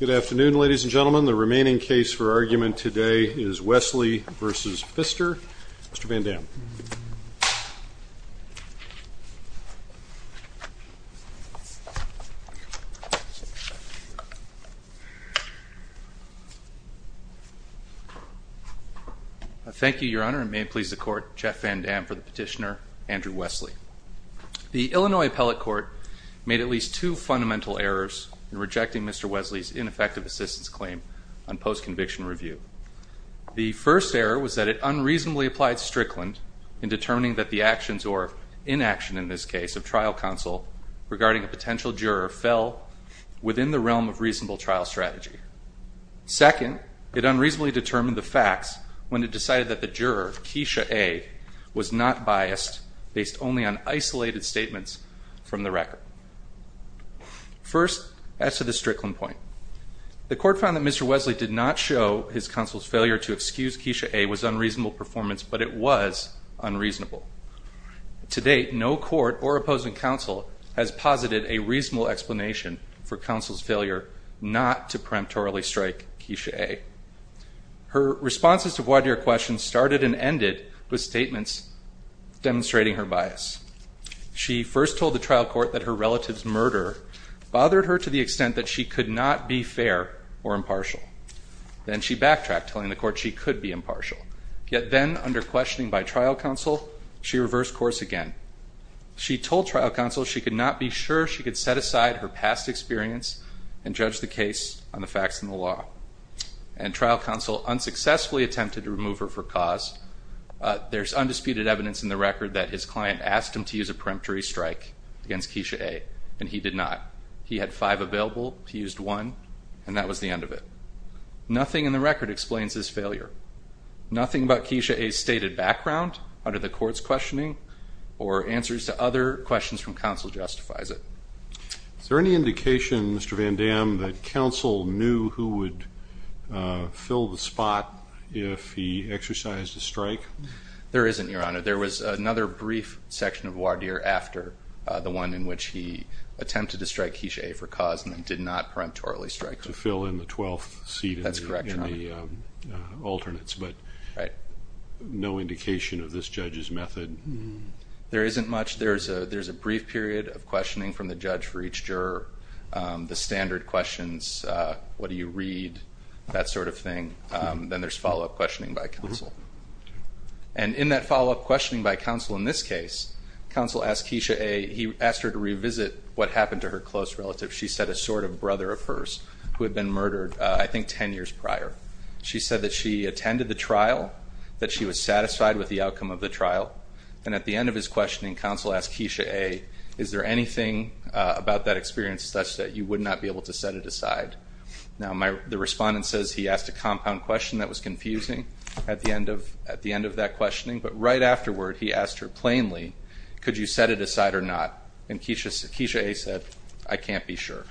Good afternoon, ladies and gentlemen. The remaining case for argument today is Wesley v. Pfister. Mr. Van Dam. Thank you, Your Honor, and may it please the Court, Jeff Van Dam for the petitioner, Andrew Wesley. The Illinois Appellate Court made at least two fundamental errors in rejecting Mr. Wesley's ineffective assistance claim on post-conviction review. The first error was that it unreasonably applied Strickland in determining that the actions, or inaction in this case, of trial counsel regarding a potential juror fell within the realm of reasonable trial strategy. Second, it unreasonably determined the facts when it decided that the juror, Keisha A., was not biased based only on isolated statements from the record. First, as to the Strickland point, the Court found that Mr. Wesley did not show his counsel's failure to excuse Keisha A. was unreasonable performance, but it was unreasonable. To date, no court or opposing counsel has posited a reasonable explanation for counsel's failure not to peremptorily strike Keisha A. Her responses to voir dire questions started and ended with statements demonstrating her bias. She first told the trial court that her relative's murder bothered her to the extent that she could not be fair or impartial. Then she backtracked, telling the court she could be impartial. Yet then, under questioning by trial counsel, she reversed course again. She told trial counsel she could not be sure she could set aside her past experience and judge the case on the facts and the law. And trial counsel unsuccessfully attempted to remove her for cause. There's undisputed evidence in the record that his client asked him to use a peremptory strike against Keisha A., and he did not. He had five available. He used one, and that was the end of it. Nothing in the record explains his failure. Nothing about Keisha A.'s stated background under the court's questioning or answers to other questions from counsel justifies it. Is there any indication, Mr. Van Dam, that counsel knew who would fill the spot if he exercised a strike? There isn't, Your Honor. There was another brief section of voir dire after the one in which he attempted to strike Keisha A. for cause and then did not peremptorily strike her. To fill in the 12th seat in the alternates, but no indication of this judge's method. There isn't much. There's a brief period of questioning from the judge for each juror, the standard questions, what do you read, that sort of thing. Then there's follow-up questioning by counsel. And in that follow-up questioning by counsel in this case, counsel asked Keisha A., he asked her to revisit what happened to her close relative. She said a sort of brother of hers who had been murdered, I think, 10 years prior. She said that she attended the trial, that she was satisfied with the outcome of the trial, and at the end of his questioning, counsel asked Keisha A., is there anything about that experience such that you would not be able to set it aside? Now, the respondent says he asked a compound question that was confusing at the end of that questioning. But right afterward, he asked her plainly, could you set it aside or not? And Keisha A. said, I can't be sure.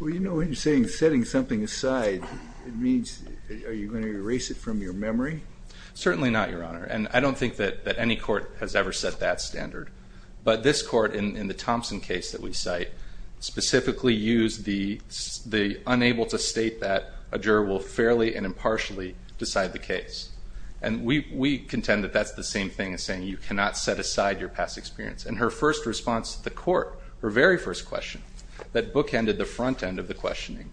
Well, you know when you're saying setting something aside, it means are you going to erase it from your memory? Certainly not, Your Honor. And I don't think that any court has ever set that standard. But this court, in the Thompson case that we cite, specifically used the unable to state that a juror will fairly and impartially decide the case. And we contend that that's the same thing as saying you cannot set aside your past experience. And her first response to the court, her very first question, that bookended the front end of the questioning,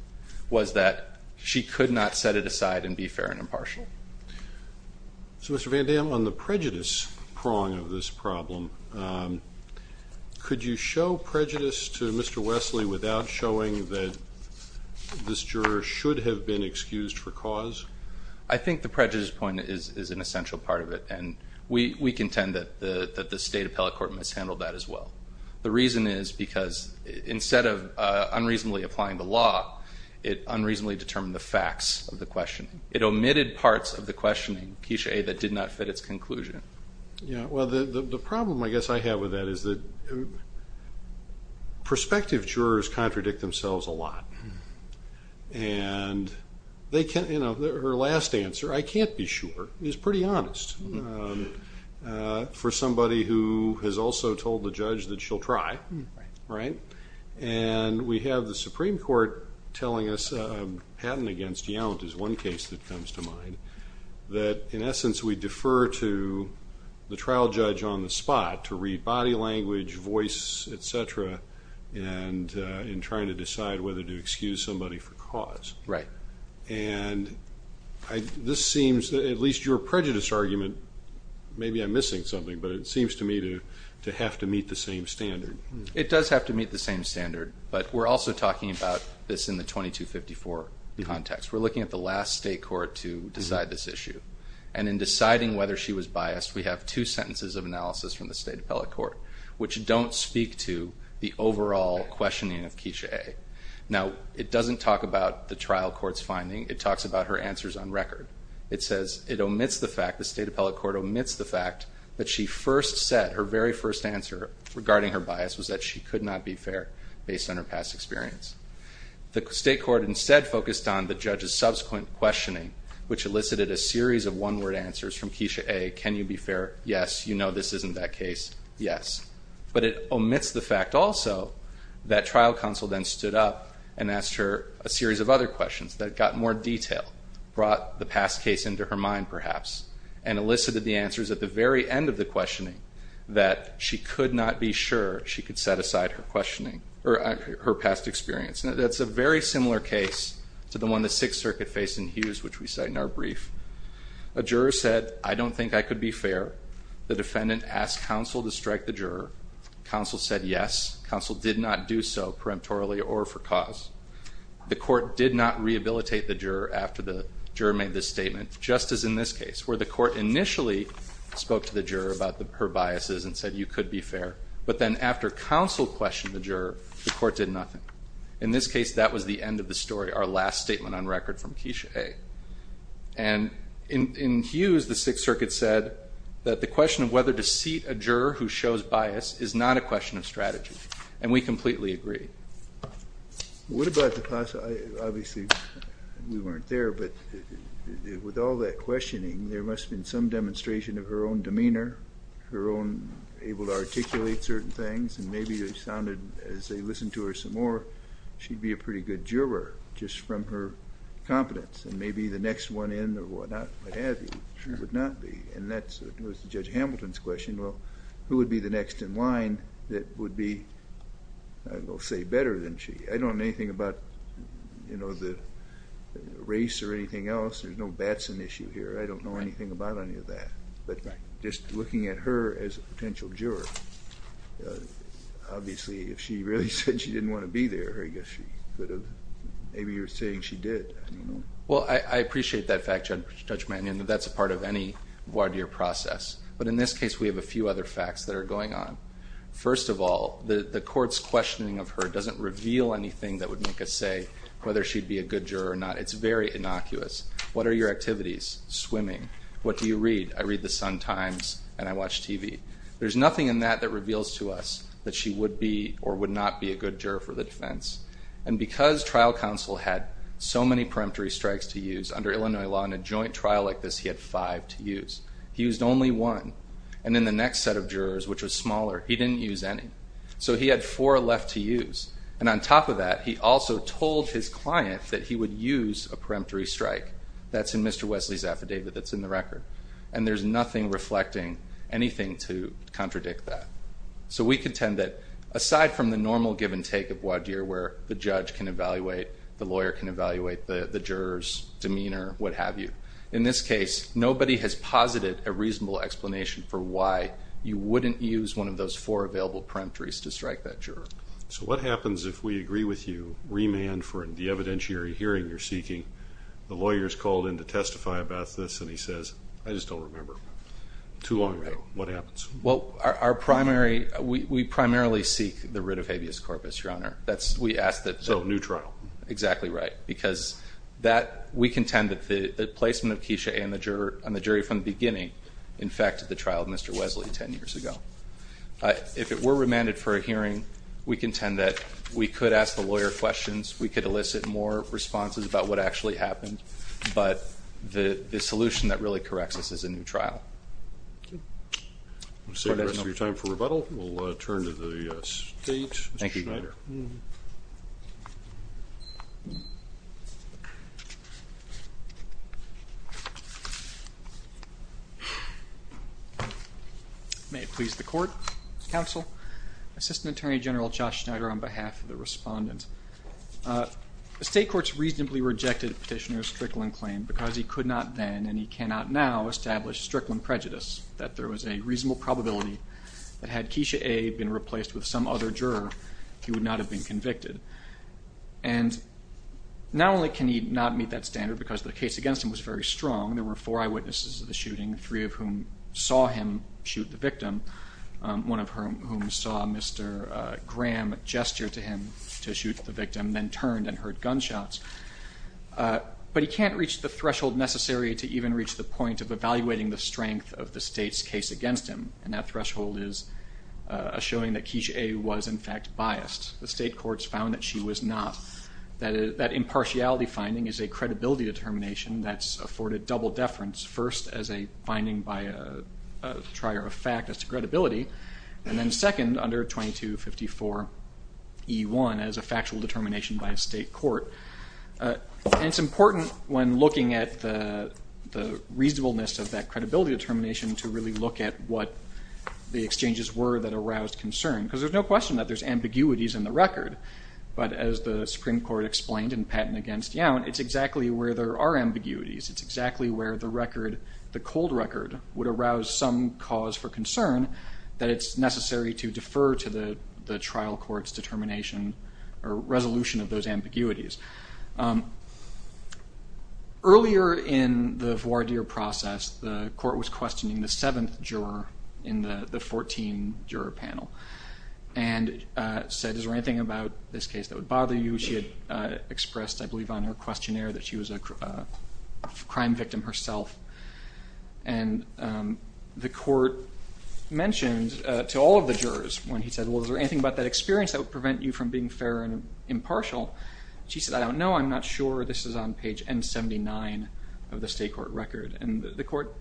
was that she could not set it aside and be fair and impartial. So, Mr. Van Dam, on the prejudice prong of this problem, could you show prejudice to Mr. Wesley without showing that this juror should have been excused for cause? I think the prejudice point is an essential part of it. And we contend that the State Appellate Court mishandled that as well. The reason is because instead of unreasonably applying the law, it unreasonably determined the facts of the question. It omitted parts of the questioning that did not fit its conclusion. Well, the problem I guess I have with that is that prospective jurors contradict themselves a lot. And her last answer, I can't be sure, is pretty honest for somebody who has also told the judge that she'll try. Right. And we have the Supreme Court telling us, a patent against Yount is one case that comes to mind, that in essence we defer to the trial judge on the spot to read body language, voice, et cetera, in trying to decide whether to excuse somebody for cause. Right. And this seems, at least your prejudice argument, maybe I'm missing something, but it seems to me to have to meet the same standard. It does have to meet the same standard, but we're also talking about this in the 2254 context. We're looking at the last state court to decide this issue. And in deciding whether she was biased, we have two sentences of analysis from the State Appellate Court, which don't speak to the overall questioning of Keisha A. Now, it doesn't talk about the trial court's finding. It talks about her answers on record. It says it omits the fact, the State Appellate Court omits the fact that she first said, her very first answer regarding her bias was that she could not be fair based on her past experience. The state court instead focused on the judge's subsequent questioning, which elicited a series of one-word answers from Keisha A., can you be fair? Yes. You know this isn't that case. Yes. But it omits the fact also that trial counsel then stood up and asked her a series of other questions that got more detail, brought the past case into her mind perhaps, and elicited the answers at the very end of the questioning, that she could not be sure she could set aside her questioning, or her past experience. That's a very similar case to the one the Sixth Circuit faced in Hughes, which we cite in our brief. A juror said, I don't think I could be fair. The defendant asked counsel to strike the juror. Counsel said yes. Counsel did not do so peremptorily or for cause. The court did not rehabilitate the juror after the juror made this statement, just as in this case, where the court initially spoke to the juror about her biases and said you could be fair, but then after counsel questioned the juror, the court did nothing. In this case, that was the end of the story, our last statement on record from Keisha A. And in Hughes, the Sixth Circuit said that the question of whether to seat a juror who shows bias is not a question of strategy, and we completely agree. What about the class? Obviously, we weren't there, but with all that questioning, there must have been some demonstration of her own demeanor, her own able to articulate certain things, and maybe it sounded, as they listened to her some more, she'd be a pretty good juror, just from her competence, and maybe the next one in or whatnot would not be. And that was Judge Hamilton's question. Well, who would be the next in line that would be, I don't know, say better than she? I don't know anything about, you know, the race or anything else. There's no Batson issue here. I don't know anything about any of that. But just looking at her as a potential juror, obviously, if she really said she didn't want to be there, I guess she could have. Maybe you're saying she did. Well, I appreciate that fact, Judge Mannion, that that's a part of any voir dire process. But in this case, we have a few other facts that are going on. First of all, the court's questioning of her doesn't reveal anything that would make us say whether she'd be a good juror or not. It's very innocuous. What are your activities? Swimming. What do you read? I read The Sun-Times and I watch TV. There's nothing in that that reveals to us that she would be or would not be a good juror for the defense. And because trial counsel had so many peremptory strikes to use, under Illinois law in a joint trial like this he had five to use. He used only one. And in the next set of jurors, which was smaller, he didn't use any. So he had four left to use. And on top of that, he also told his client that he would use a peremptory strike. That's in Mr. Wesley's affidavit that's in the record. And there's nothing reflecting anything to contradict that. So we contend that aside from the normal give and take of voir dire where the judge can evaluate, the lawyer can evaluate, the juror's demeanor, what have you, in this case nobody has posited a reasonable explanation for why you wouldn't use one of those four available peremptories to strike that juror. So what happens if we agree with you, remand for the evidentiary hearing you're seeking, the lawyer's called in to testify about this and he says, I just don't remember. Too long ago. What happens? Well, our primary, we primarily seek the writ of habeas corpus, Your Honor. So, new trial. Exactly right. Because we contend that the placement of Keisha and the jury from the beginning infected the trial of Mr. Wesley ten years ago. If it were remanded for a hearing, we contend that we could ask the lawyer questions, we could elicit more responses about what actually happened, but the solution that really corrects this is a new trial. We'll save the rest of your time for rebuttal. We'll turn to the state. Thank you. Mr. Schneider. May it please the Court. Counsel. Assistant Attorney General Josh Schneider on behalf of the respondents. The state courts reasonably rejected Petitioner's Strickland claim because he could not then and he cannot now establish Strickland prejudice that there was a reasonable probability that had Keisha A. been replaced with some other juror, he would not have been convicted. And not only can he not meet that standard because the case against him was very strong, there were four eyewitnesses of the shooting, three of whom saw him shoot the victim, one of whom saw Mr. Graham gesture to him to shoot the victim, then turned and heard gunshots. But he can't reach the threshold necessary to even reach the point of evaluating the strength of the state's evidence against him, and that threshold is a showing that Keisha A. was, in fact, biased. The state courts found that she was not. That impartiality finding is a credibility determination that's afforded double deference, first as a finding by a trier of fact as to credibility, and then second under 2254E1 as a factual determination by a state court. And it's important when looking at the reasonableness of that credibility determination to really look at what the exchanges were that aroused concern, because there's no question that there's ambiguities in the record. But as the Supreme Court explained in Patent Against Young, it's exactly where there are ambiguities. It's exactly where the record, the cold record, would arouse some cause for concern that it's necessary to defer to the trial court's determination or resolution of those ambiguities. Earlier in the voir dire process, the court was questioning the seventh juror in the 14-juror panel and said, is there anything about this case that would bother you? She had expressed, I believe, on her questionnaire that she was a crime victim herself. And the court mentioned to all of the jurors when he said, well, is there anything about that experience that would prevent you from being fair and impartial? She said, I don't know. I'm not sure. This is on page N79 of the state court record. And the court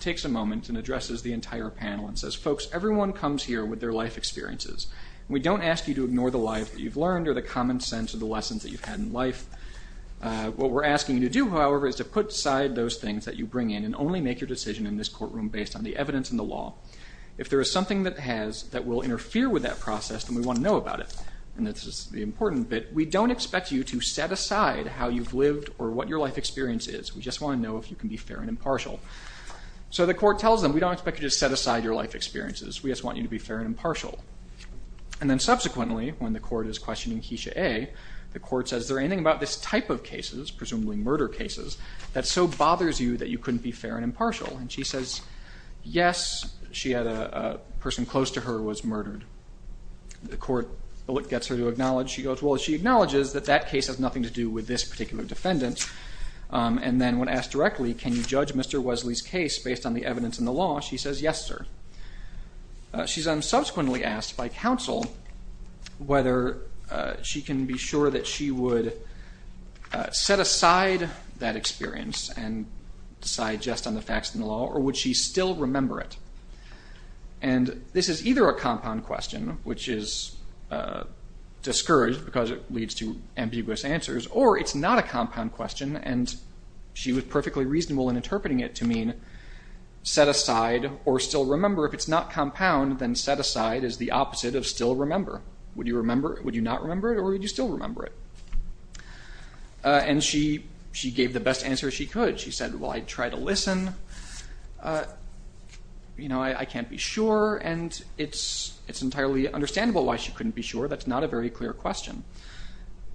takes a moment and addresses the entire panel and says, folks, everyone comes here with their life experiences. We don't ask you to ignore the life that you've learned or the common sense or the lessons that you've had in life. What we're asking you to do, however, is to put aside those things that you bring in and only make your decision in this courtroom based on the evidence and the law. If there is something that has that will interfere with that process, then we want to know about it. And this is the important bit. We don't expect you to set aside how you've lived or what your life experience is. We just want to know if you can be fair and impartial. So the court tells them, we don't expect you to set aside your life experiences. We just want you to be fair and impartial. And then subsequently, when the court is questioning Keisha A., the court says, is there anything about this type of cases, presumably murder cases, that so bothers you that you couldn't be fair and impartial? And she says, yes. She had a person close to her was murdered. The court gets her to acknowledge. She goes, well, she acknowledges that that case has nothing to do with this particular defendant. And then when asked directly, can you judge Mr. Wesley's case based on the evidence and the law? She says, yes, sir. She's then subsequently asked by counsel whether she can be sure that she would set aside that experience and decide just on the facts and the law, or would she still remember it? And this is either a compound question, which is discouraged because it leads to ambiguous answers, or it's not a compound question, and she was perfectly reasonable in interpreting it to mean set aside or still remember. If it's not compound, then set aside is the opposite of still remember. Would you not remember it, or would you still remember it? And she gave the best answer she could. She said, well, I'd try to listen. You know, I can't be sure, and it's entirely understandable why she couldn't be sure. That's not a very clear question.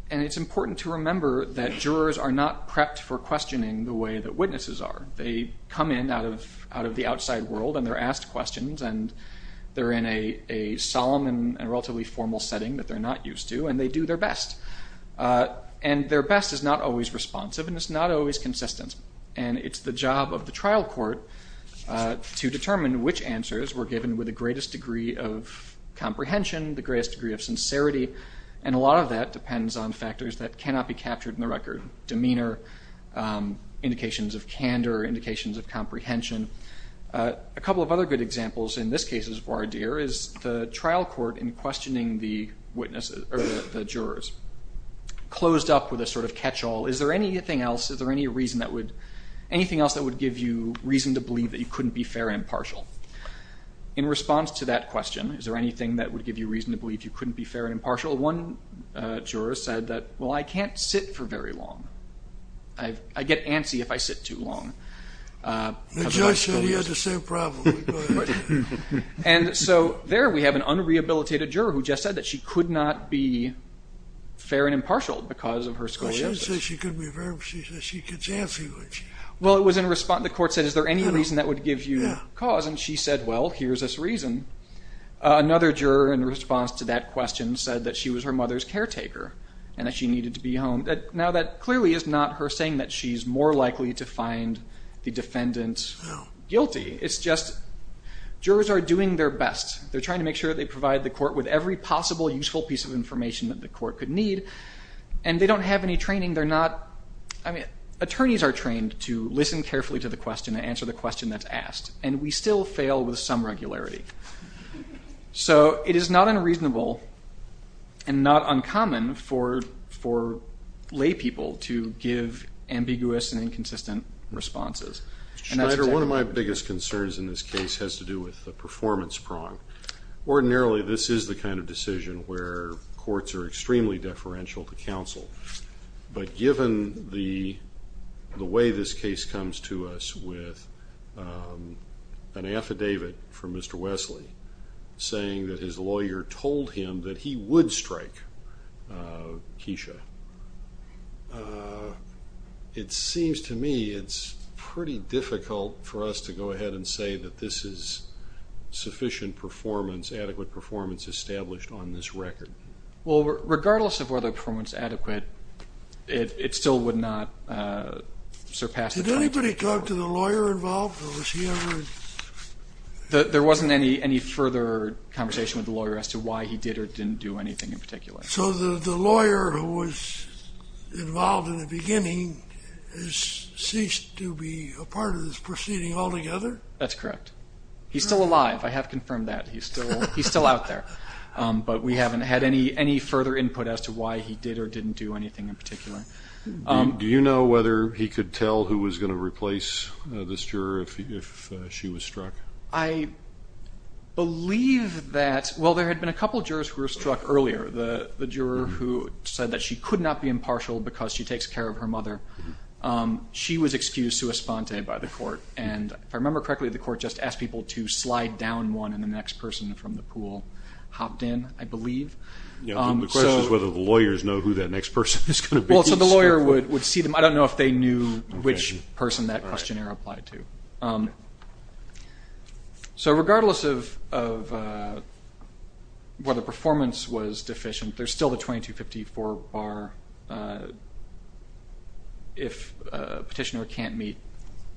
And it's important to remember that jurors are not prepped for questioning the way that witnesses are. They come in out of the outside world, and they're asked questions, and they're in a solemn and relatively formal setting that they're not used to, and they do their best. And their best is not always responsive, and it's not always consistent. And it's the job of the trial court to determine which answers were given with the greatest degree of comprehension, the greatest degree of sincerity, and a lot of that depends on factors that cannot be captured in the record, demeanor, indications of candor, indications of comprehension. A couple of other good examples in this case, Vardir, is the trial court in questioning the jurors closed up with a sort of catch-all. Is there anything else, is there any reason that would, anything else that would give you reason to believe that you couldn't be fair and impartial? In response to that question, is there anything that would give you reason to believe you couldn't be fair and impartial? One juror said that, well, I can't sit for very long. I get antsy if I sit too long. The judge said he had the same problem. And so there we have an unrehabilitated juror who just said that she could not be fair and impartial because of her scoliosis. She didn't say she couldn't be fair. She said she gets antsy. Well, it was in response, the court said, is there any reason that would give you cause? And she said, well, here's this reason. Another juror in response to that question said that she was her mother's caretaker and that she needed to be home. Now, that clearly is not her saying that she's more likely to find the defendant guilty. It's just jurors are doing their best. They're trying to make sure they provide the court with every possible useful piece of information that the court could need. And they don't have any training. They're not, I mean, attorneys are trained to listen carefully to the question and answer the question that's asked. And we still fail with some regularity. So it is not unreasonable and not uncommon for lay people to give ambiguous and inconsistent responses. Schneider, one of my biggest concerns in this case has to do with the performance prong. Ordinarily, this is the kind of decision where courts are extremely deferential to counsel. But given the way this case comes to us with an affidavit from Mr. Wesley saying that his lawyer told him that he would strike Keisha, it seems to me it's pretty difficult for us to go ahead and say that this is sufficient performance, adequate performance established on this record. Well, regardless of whether the performance is adequate, it still would not surpass the point. Did anybody talk to the lawyer involved, or was he ever? There wasn't any further conversation with the lawyer as to why he did or didn't do anything in particular. So the lawyer who was involved in the beginning ceased to be a part of this proceeding altogether? That's correct. He's still alive. I have confirmed that. He's still out there. But we haven't had any further input as to why he did or didn't do anything in particular. Do you know whether he could tell who was going to replace this juror if she was struck? I believe that, well, there had been a couple jurors who were struck earlier. The juror who said that she could not be impartial because she takes care of her mother, she was excused sua sponte by the court. And if I remember correctly, the court just asked people to slide down one, and the next person from the pool hopped in, I believe. The question is whether the lawyers know who that next person is going to be. Well, so the lawyer would see them. I don't know if they knew which person that questionnaire applied to. So regardless of whether performance was deficient, there's still the 2254 bar if a petitioner can't meet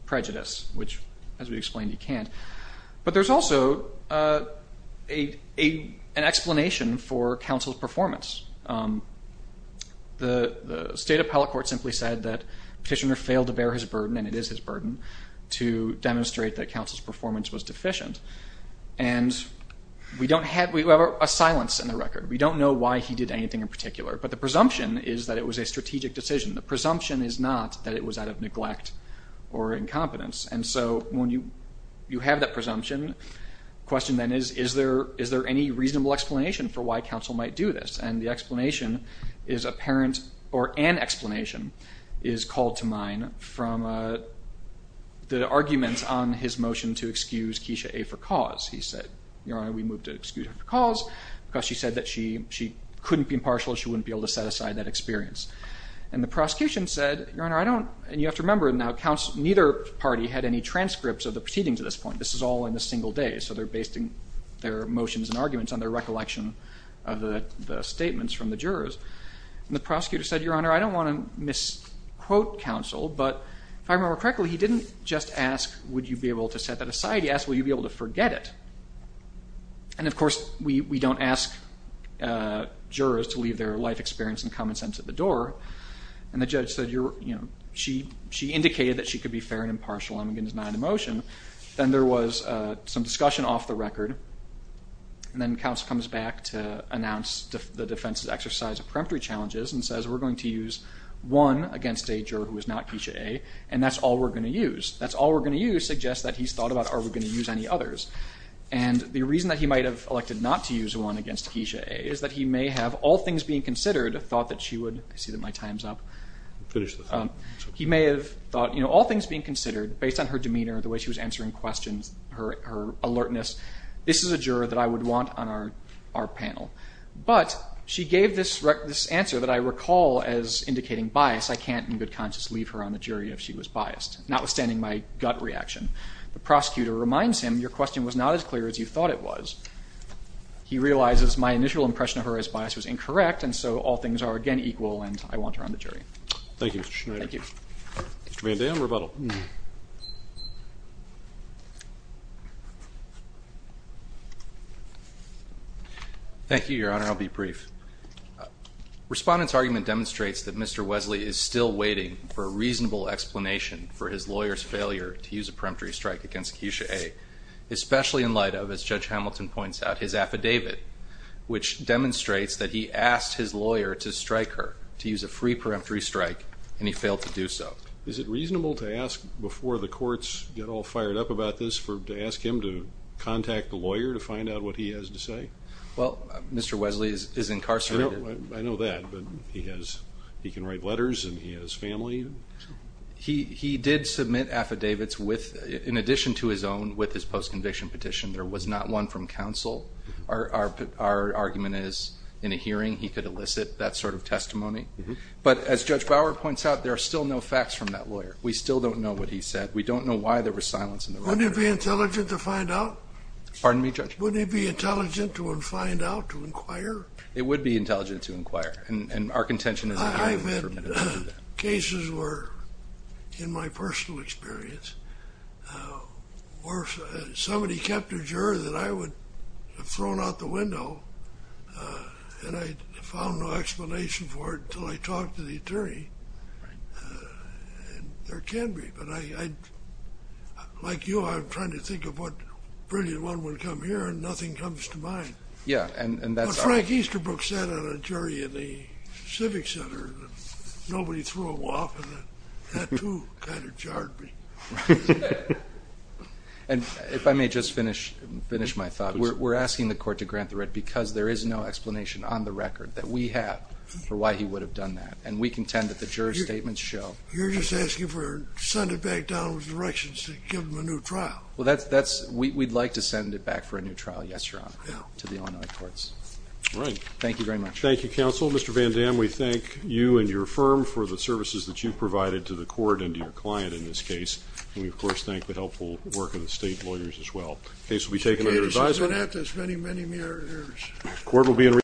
prejudice, which, as we explained, he can't. But there's also an explanation for counsel's performance. The state appellate court simply said that the petitioner failed to bear his burden, and it is his burden, to demonstrate that counsel's performance was deficient. And we don't have a silence in the record. We don't know why he did anything in particular. But the presumption is that it was a strategic decision. The presumption is not that it was out of neglect or incompetence. And so when you have that presumption, the question then is, is there any reasonable explanation for why counsel might do this? And the explanation is apparent, or an explanation is called to mind, from the argument on his motion to excuse Keisha A. for cause. He said, Your Honor, we move to excuse her for cause because she said that she couldn't be impartial. She wouldn't be able to set aside that experience. And the prosecution said, Your Honor, I don't ñ and you have to remember now, neither party had any transcripts of the proceedings at this point. This is all in a single day. So they're basing their motions and arguments on their recollection of the statements from the jurors. And the prosecutor said, Your Honor, I don't want to misquote counsel, but if I remember correctly, he didn't just ask, would you be able to set that aside? He asked, will you be able to forget it? And, of course, we don't ask jurors to leave their life experience and common sense at the door. And the judge said, You know, she indicated that she could be fair and impartial. I'm going to deny the motion. Then there was some discussion off the record, and then counsel comes back to announce the defense's exercise of peremptory challenges and says we're going to use one against a juror who is not Keisha A, and that's all we're going to use. That's all we're going to use suggests that he's thought about are we going to use any others. And the reason that he might have elected not to use one against Keisha A is that he may have, all things being considered, thought that she would, I see that my time's up. Finish this. He may have thought, you know, all things being considered, based on her demeanor, the way she was answering questions, her alertness, this is a juror that I would want on our panel. But she gave this answer that I recall as indicating bias. I can't in good conscience leave her on the jury if she was biased, notwithstanding my gut reaction. The prosecutor reminds him your question was not as clear as you thought it was. He realizes my initial impression of her as bias was incorrect, and so all things are again equal, and I want her on the jury. Thank you, Mr. Schneider. Thank you. Mr. Van Dam, rebuttal. Thank you, Your Honor. I'll be brief. Respondent's argument demonstrates that Mr. Wesley is still waiting for a reasonable explanation for his lawyer's failure to use a peremptory strike against Keisha A, especially in light of, as Judge Hamilton points out, his affidavit, which demonstrates that he asked his lawyer to strike her, to use a free peremptory strike, and he failed to do so. Is it reasonable to ask, before the courts get all fired up about this, to ask him to contact the lawyer to find out what he has to say? Well, Mr. Wesley is incarcerated. I know that, but he can write letters and he has family. He did submit affidavits with, in addition to his own, with his post-conviction petition. There was not one from counsel. Our argument is, in a hearing, he could elicit that sort of testimony. But as Judge Bower points out, there are still no facts from that lawyer. We still don't know what he said. We don't know why there was silence in the record. Wouldn't it be intelligent to find out? Pardon me, Judge? Wouldn't it be intelligent to find out, to inquire? It would be intelligent to inquire. And our contention is in the hearing. I've had cases where, in my personal experience, where somebody kept a juror that I would have thrown out the window and I found no explanation for it until I talked to the attorney. There can be, but I, like you, I'm trying to think of what brilliant one would come here and nothing comes to mind. But Frank Easterbrook sat on a jury in the Civic Center. Nobody threw him off, and that, too, kind of jarred me. Right. And if I may just finish my thought. We're asking the Court to grant the writ because there is no explanation on the record that we have for why he would have done that, and we contend that the juror's statements show. You're just asking for sending back Donald's directions to give him a new trial. Well, we'd like to send it back for a new trial, yes, Your Honor, to the Illinois courts. All right. Thank you very much. Thank you, Counsel. Mr. Van Dam, we thank you and your firm for the services that you've provided to the Court and to your client in this case, and we, of course, thank the helpful work of the state lawyers as well. The case will be taken under advisory. The case has been at this many, many years.